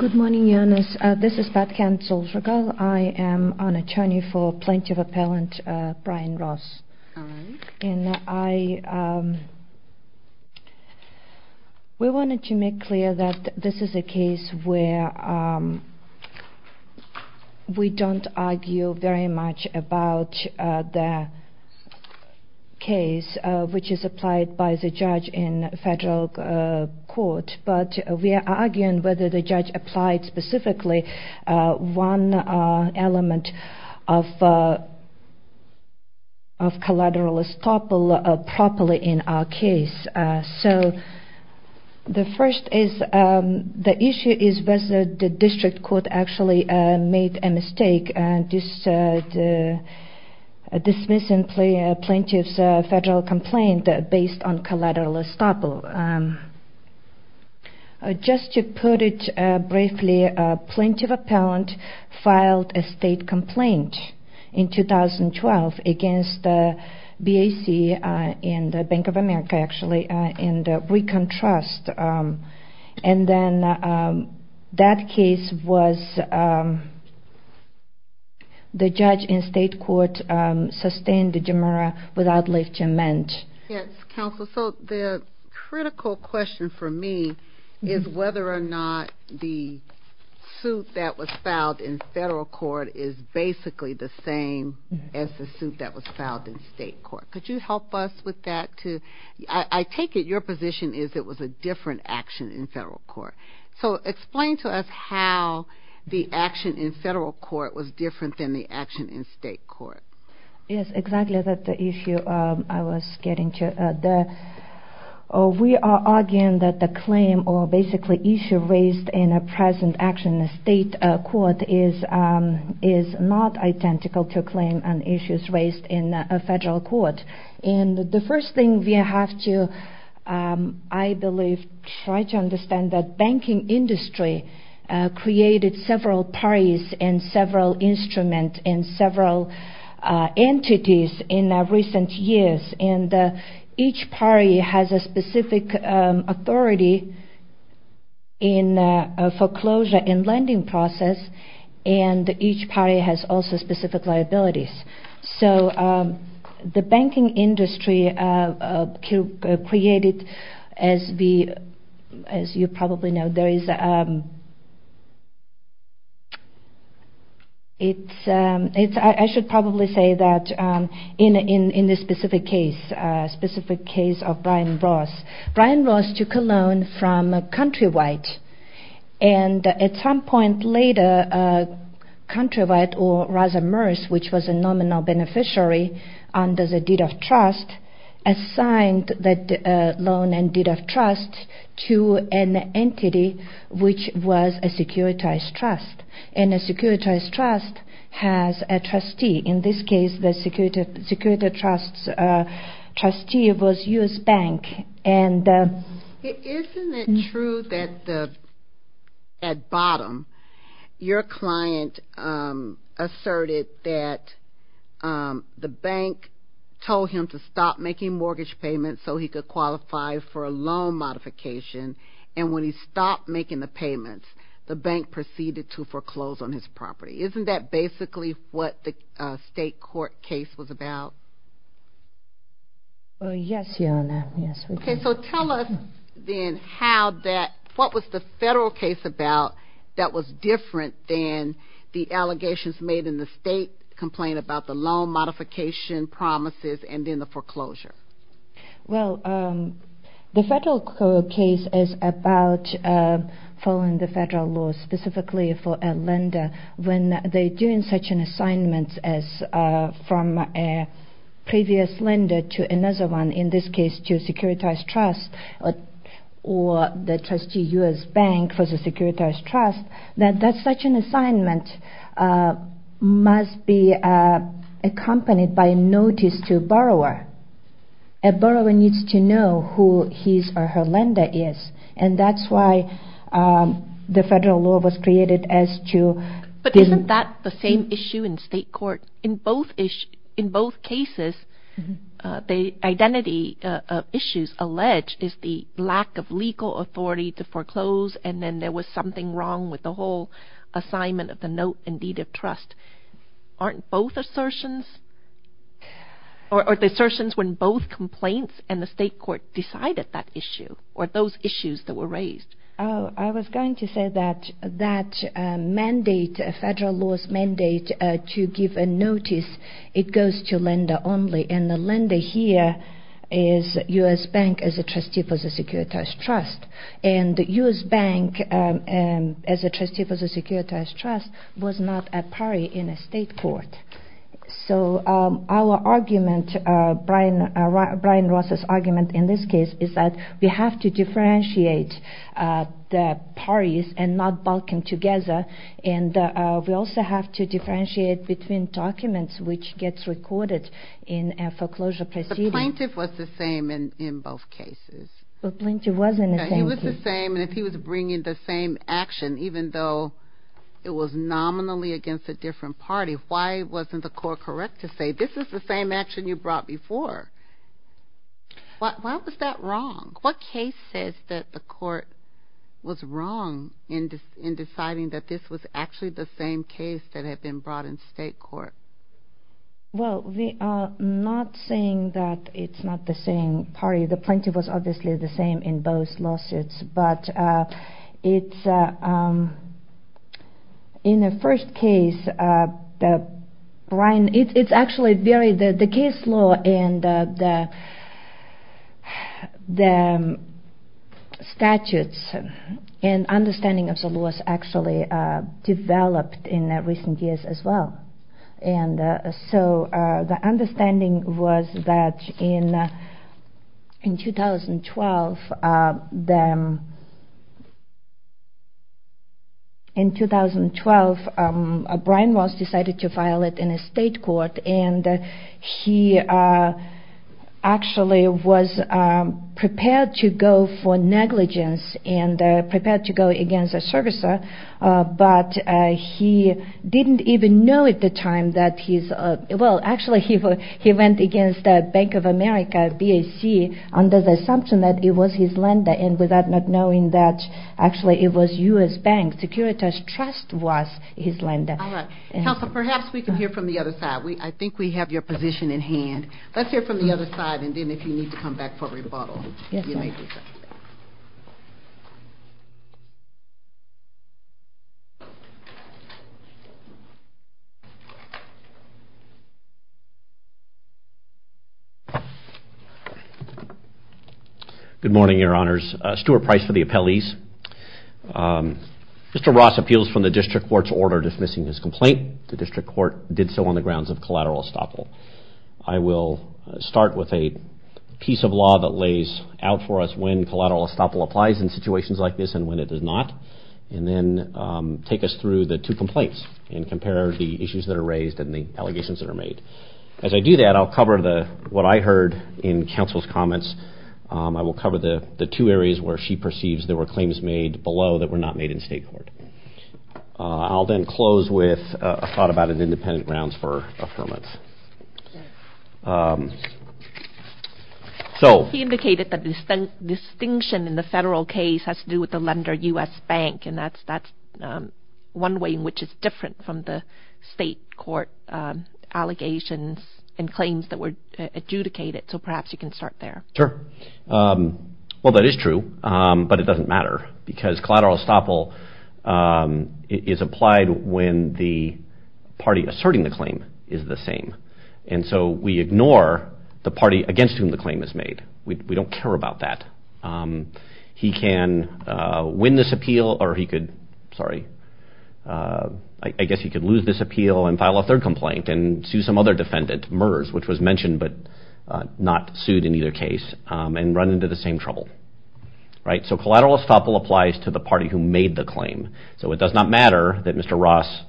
Good morning, Janice. This is Pat Cansel-Srigal. I am an attorney for Plaintiff Appellant Brian Ross. We wanted to make clear that this is a case where we don't argue very much about the case which is applied by the judge in federal court, but we are arguing whether the judge applied specifically one element of collateral estoppel properly in our case. The issue is whether the district court actually made a mistake dismissing plaintiff's federal complaint based on collateral estoppel. Just to put it briefly, Plaintiff Appellant filed a state complaint in 2012 against BAC in the Bank of America, actually, in the Recon Trust. And then that case was the judge in state court sustained the demerit without left to amend. Yes, counsel. So the critical question for me is whether or not the suit that was filed in federal court is basically the same as the suit that was filed in state court. Could you help us with that? I take it your position is it was a different action in federal court. So explain to us how the action in federal court was different than the action in state court. Yes, exactly. That's the issue I was getting to. We are arguing that the claim or basically issue raised in a present action in state court is not identical to a claim and issues raised in a federal court. And the first thing we have to, I believe, try to understand that banking industry created several parties and several instruments and several entities in recent years. And each party has a specific authority in foreclosure and lending process, and each party has also specific liabilities. So the banking industry created, as you probably know, there is, I should probably say that in this specific case, specific case of Brian Ross. Brian Ross took a loan from Countrywide, and at some point later, Countrywide, or rather MERS, which was a nominal beneficiary under the deed of trust, assigned that loan and deed of trust to an entity which was a securitized trust. And a securitized trust has a trustee. In this case, the security trust's trustee was U.S. Bank. Isn't it true that at bottom, your client asserted that the bank told him to stop making mortgage payments so he could qualify for a loan modification, and when he stopped making the payments, the bank proceeded to foreclose on his property? Isn't that basically what the state court case was about? Yes, Your Honor, yes. Okay, so tell us then how that, what was the federal case about that was different than the allegations made in the state complaint about the loan modification promises and then the foreclosure? Well, the federal case is about following the federal law specifically for a lender when they're doing such an assignment as from a previous lender to another one, in this case to a securitized trust or the trustee U.S. Bank for the securitized trust, that such an assignment must be accompanied by a notice to a borrower. A borrower needs to know who his or her lender is, and that's why the federal law was created as to... with the whole assignment of the note and deed of trust. Aren't both assertions, or the assertions when both complaints and the state court decided that issue or those issues that were raised? I was going to say that that mandate, federal law's mandate to give a notice, it goes to lender only, and the lender here is U.S. Bank as a trustee for the securitized trust, and U.S. Bank as a trustee for the securitized trust was not a party in a state court. So our argument, Brian Ross's argument in this case, is that we have to differentiate the parties and not balking together, and we also have to differentiate between documents which gets recorded in a foreclosure proceeding. The plaintiff was the same in both cases. He was the same, and if he was bringing the same action, even though it was nominally against a different party, why wasn't the court correct to say, this is the same action you brought before? Why was that wrong? What case says that the court was wrong in deciding that this was actually the same case that had been brought in state court? Well, we are not saying that it's not the same party. The plaintiff was obviously the same in both lawsuits, but in the first case, the case law and the statutes and understanding of the laws actually developed in recent years as well. And so the understanding was that in 2012, Brian Ross decided to file it in a state court, and he actually was prepared to go for negligence and prepared to go against a servicer, but he didn't even know at the time that he's, well, actually he went against Bank of America, BAC, under the assumption that it was his lender, and without not knowing that actually it was U.S. Bank, Securitas Trust was his lender. All right. Counsel, perhaps we can hear from the other side. I think we have your position in hand. Let's hear from the other side, and then if you need to come back for rebuttal, you may do so. Good morning, Your Honors. Stuart Price for the appellees. Mr. Ross appeals from the district court's order dismissing his complaint. The district court did so on the grounds of collateral estoppel. I will start with a piece of law that lays out for us when collateral estoppel applies in situations like this and when it does not, and then take us through the two complaints and compare the issues that are raised and the allegations that are made. As I do that, I'll cover what I heard in counsel's comments. I will cover the two areas where she perceives there were claims made below that were not made in state court. I'll then close with a thought about an independent grounds for affirmance. He indicated that the distinction in the federal case has to do with the lender, U.S. Bank, and that's one way in which it's different from the state court allegations and claims that were adjudicated, so perhaps you can start there. Sure. Well, that is true, but it doesn't matter because collateral estoppel is applied when the party asserting the claim is the same, and so we ignore the party against whom the claim is made. We don't care about that. He can win this appeal, or he could, sorry, I guess he could lose this appeal and file a third complaint and sue some other defendant, MERS, which was mentioned but not sued in either case, and run into the same trouble. So collateral estoppel applies to the party who made the claim, so it does not matter that Mr. Ross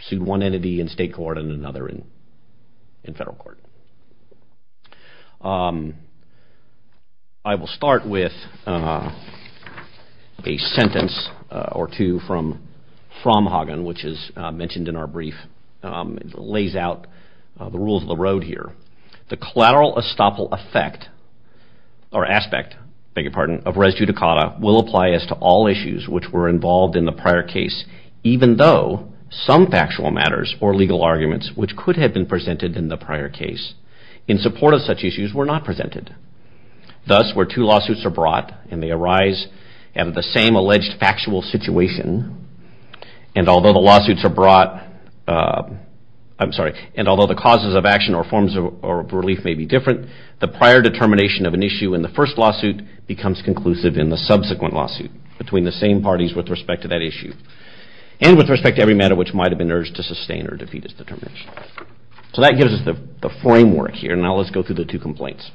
sued one entity in state court and another in federal court. I will start with a sentence or two from Fraumhagen, which is mentioned in our brief, lays out the rules of the road here. The collateral estoppel effect or aspect, beg your pardon, of res judicata will apply as to all issues which were involved in the prior case, even though some factual matters or legal arguments which could have been presented in the prior case in support of such issues were not presented. Thus, where two lawsuits are brought, and they arise out of the same alleged factual situation, and although the lawsuits are brought, I'm sorry, and although the causes of action or forms of relief may be different, the prior determination of an issue in the first lawsuit becomes conclusive in the subsequent lawsuit between the same parties with respect to that issue, and with respect to every matter which might have been urged to sustain or defeat its determination. So that gives us the framework here, now let's go through the two complaints.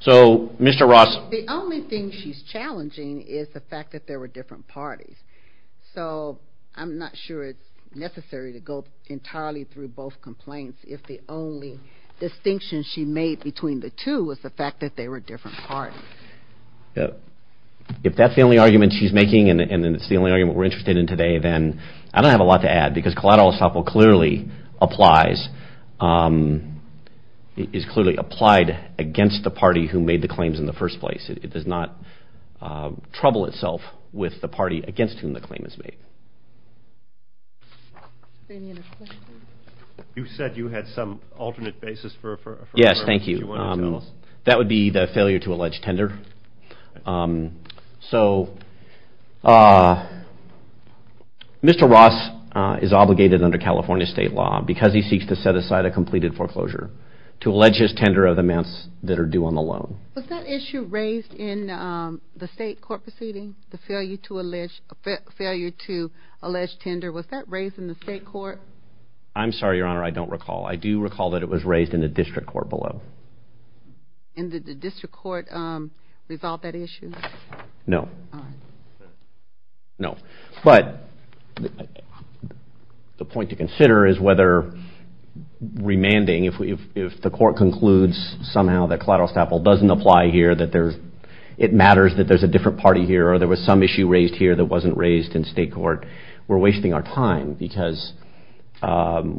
So, Mr. Ross. The only thing she's challenging is the fact that there were different parties, so I'm not sure it's necessary to go entirely through both complaints if the only distinction she made between the two was the fact that they were different parties. If that's the only argument she's making, and it's the only argument we're interested in today, then I don't have a lot to add, because collateral estoppel clearly applies, is clearly applied against the party who made the claims in the first place. It does not trouble itself with the party against whom the claim is made. You said you had some alternate basis for affirming. Yes, thank you. That would be the failure to allege tender. So, Mr. Ross is obligated under California state law, because he seeks to set aside a completed foreclosure, to allege his tender of the amounts that are due on the loan. Was that issue raised in the state court proceeding, the failure to allege tender, was that raised in the state court? I'm sorry, Your Honor, I don't recall. I do recall that it was raised in the district court below. And did the district court resolve that issue? No. All right. No. But the point to consider is whether remanding, if the court concludes somehow that collateral estoppel doesn't apply here, that it matters that there's a different party here, or there was some issue raised here that wasn't raised in state court, we're wasting our time, because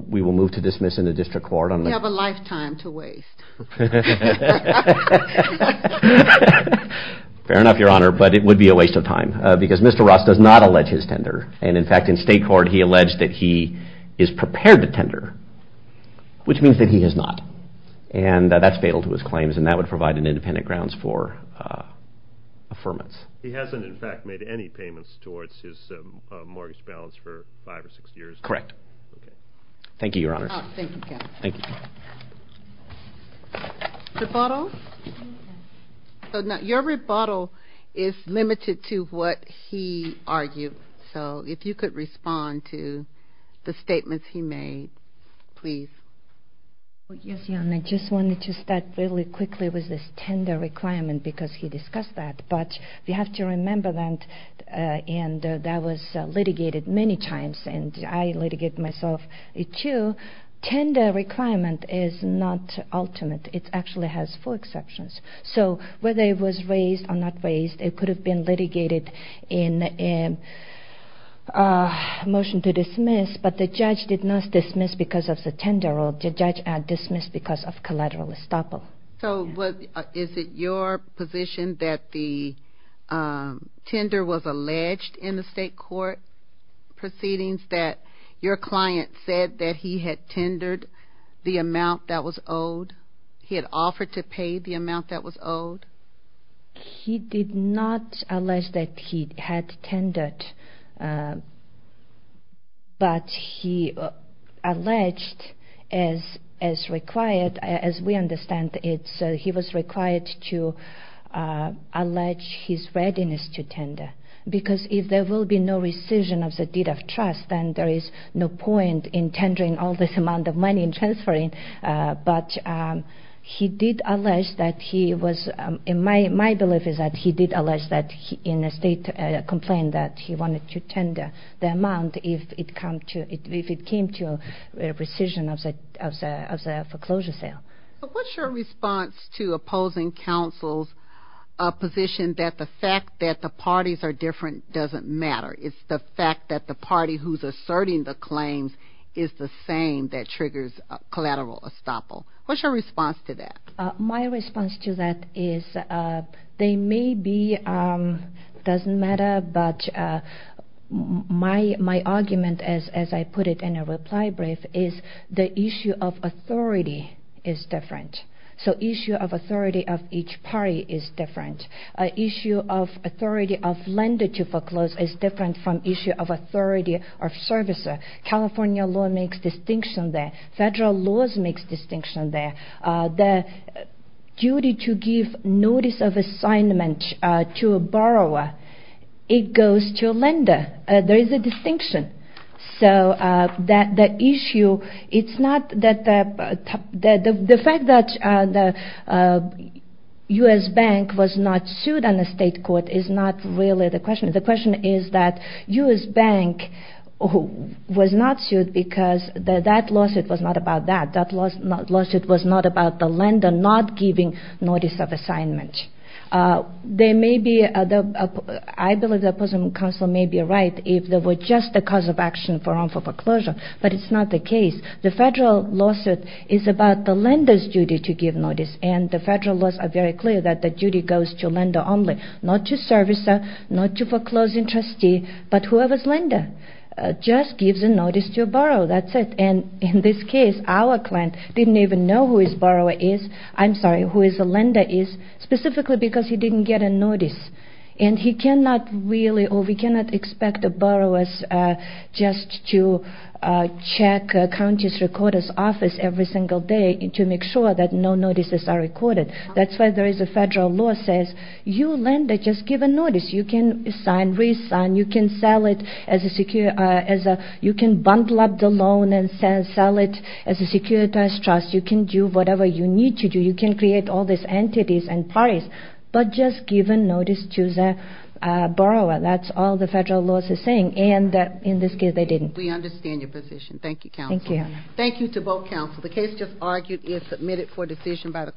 we will move to dismiss in the district court. We have a lifetime to waste. Fair enough, Your Honor, but it would be a waste of time, because Mr. Ross does not allege his tender. And in fact, in state court, he alleged that he is prepared to tender, which means that he is not. And that's fatal to his claims, and that would provide an independent grounds for affirmance. He hasn't, in fact, made any payments towards his mortgage balance for five or six years? Correct. Thank you, Your Honor. Thank you, Kevin. Thank you. Rebuttal? Your rebuttal is limited to what he argued, so if you could respond to the statements he made, please. Yes, Your Honor, I just wanted to start really quickly with this tender requirement, because he discussed that. But we have to remember that that was litigated many times, and I litigate myself, too. Tender requirement is not ultimate. It actually has four exceptions. So whether it was raised or not raised, it could have been litigated in a motion to dismiss, but the judge did not dismiss because of the tender, or the judge dismissed because of collateral estoppel. So is it your position that the tender was alleged in the state court proceedings, that your client said that he had tendered the amount that was owed? He had offered to pay the amount that was owed? He did not allege that he had tendered, but he alleged as required, as we understand it, he was required to allege his readiness to tender. Because if there will be no rescission of the deed of trust, then there is no point in tendering all this amount of money and transferring. But he did allege that he was, my belief is that he did allege that in a state complaint that he wanted to tender the amount if it came to rescission of the foreclosure sale. What's your response to opposing counsel's position that the fact that the parties are different doesn't matter? It's the fact that the party who's asserting the claims is the same that triggers collateral estoppel. What's your response to that? My response to that is they may be, doesn't matter, but my argument, as I put it in a reply brief, is the issue of authority is different. So issue of authority of each party is different. Issue of authority of lender to foreclose is different from issue of authority of servicer. California law makes distinction there. Federal laws makes distinction there. The duty to give notice of assignment to a borrower, it goes to a lender. There is a distinction. So the issue, it's not that the fact that the U.S. Bank was not sued on the state court is not really the question. The question is that U.S. Bank was not sued because that lawsuit was not about that. That lawsuit was not about the lender not giving notice of assignment. There may be, I believe the opposing counsel may be right if there were just a cause of action for wrongful foreclosure, but it's not the case. The federal lawsuit is about the lender's duty to give notice, and the federal laws are very clear that the duty goes to lender only, not to servicer, not to foreclosing trustee, but whoever's lender just gives a notice to a borrower. That's it. And in this case, our client didn't even know who his borrower is, I'm sorry, who his lender is, specifically because he didn't get a notice. And he cannot really, or we cannot expect a borrower just to check a county's recorder's office every single day to make sure that no notices are recorded. That's why there is a federal law that says you lender just give a notice. You can sign, re-sign, you can bundle up the loan and sell it as a securitized trust. You can do whatever you need to do. You can create all these entities and parties, but just give a notice to the borrower. That's all the federal law is saying, and in this case, they didn't. We understand your position. Thank you, counsel. Thank you, Your Honor. Thank you to both counsel. The case just argued is submitted for decision by the court.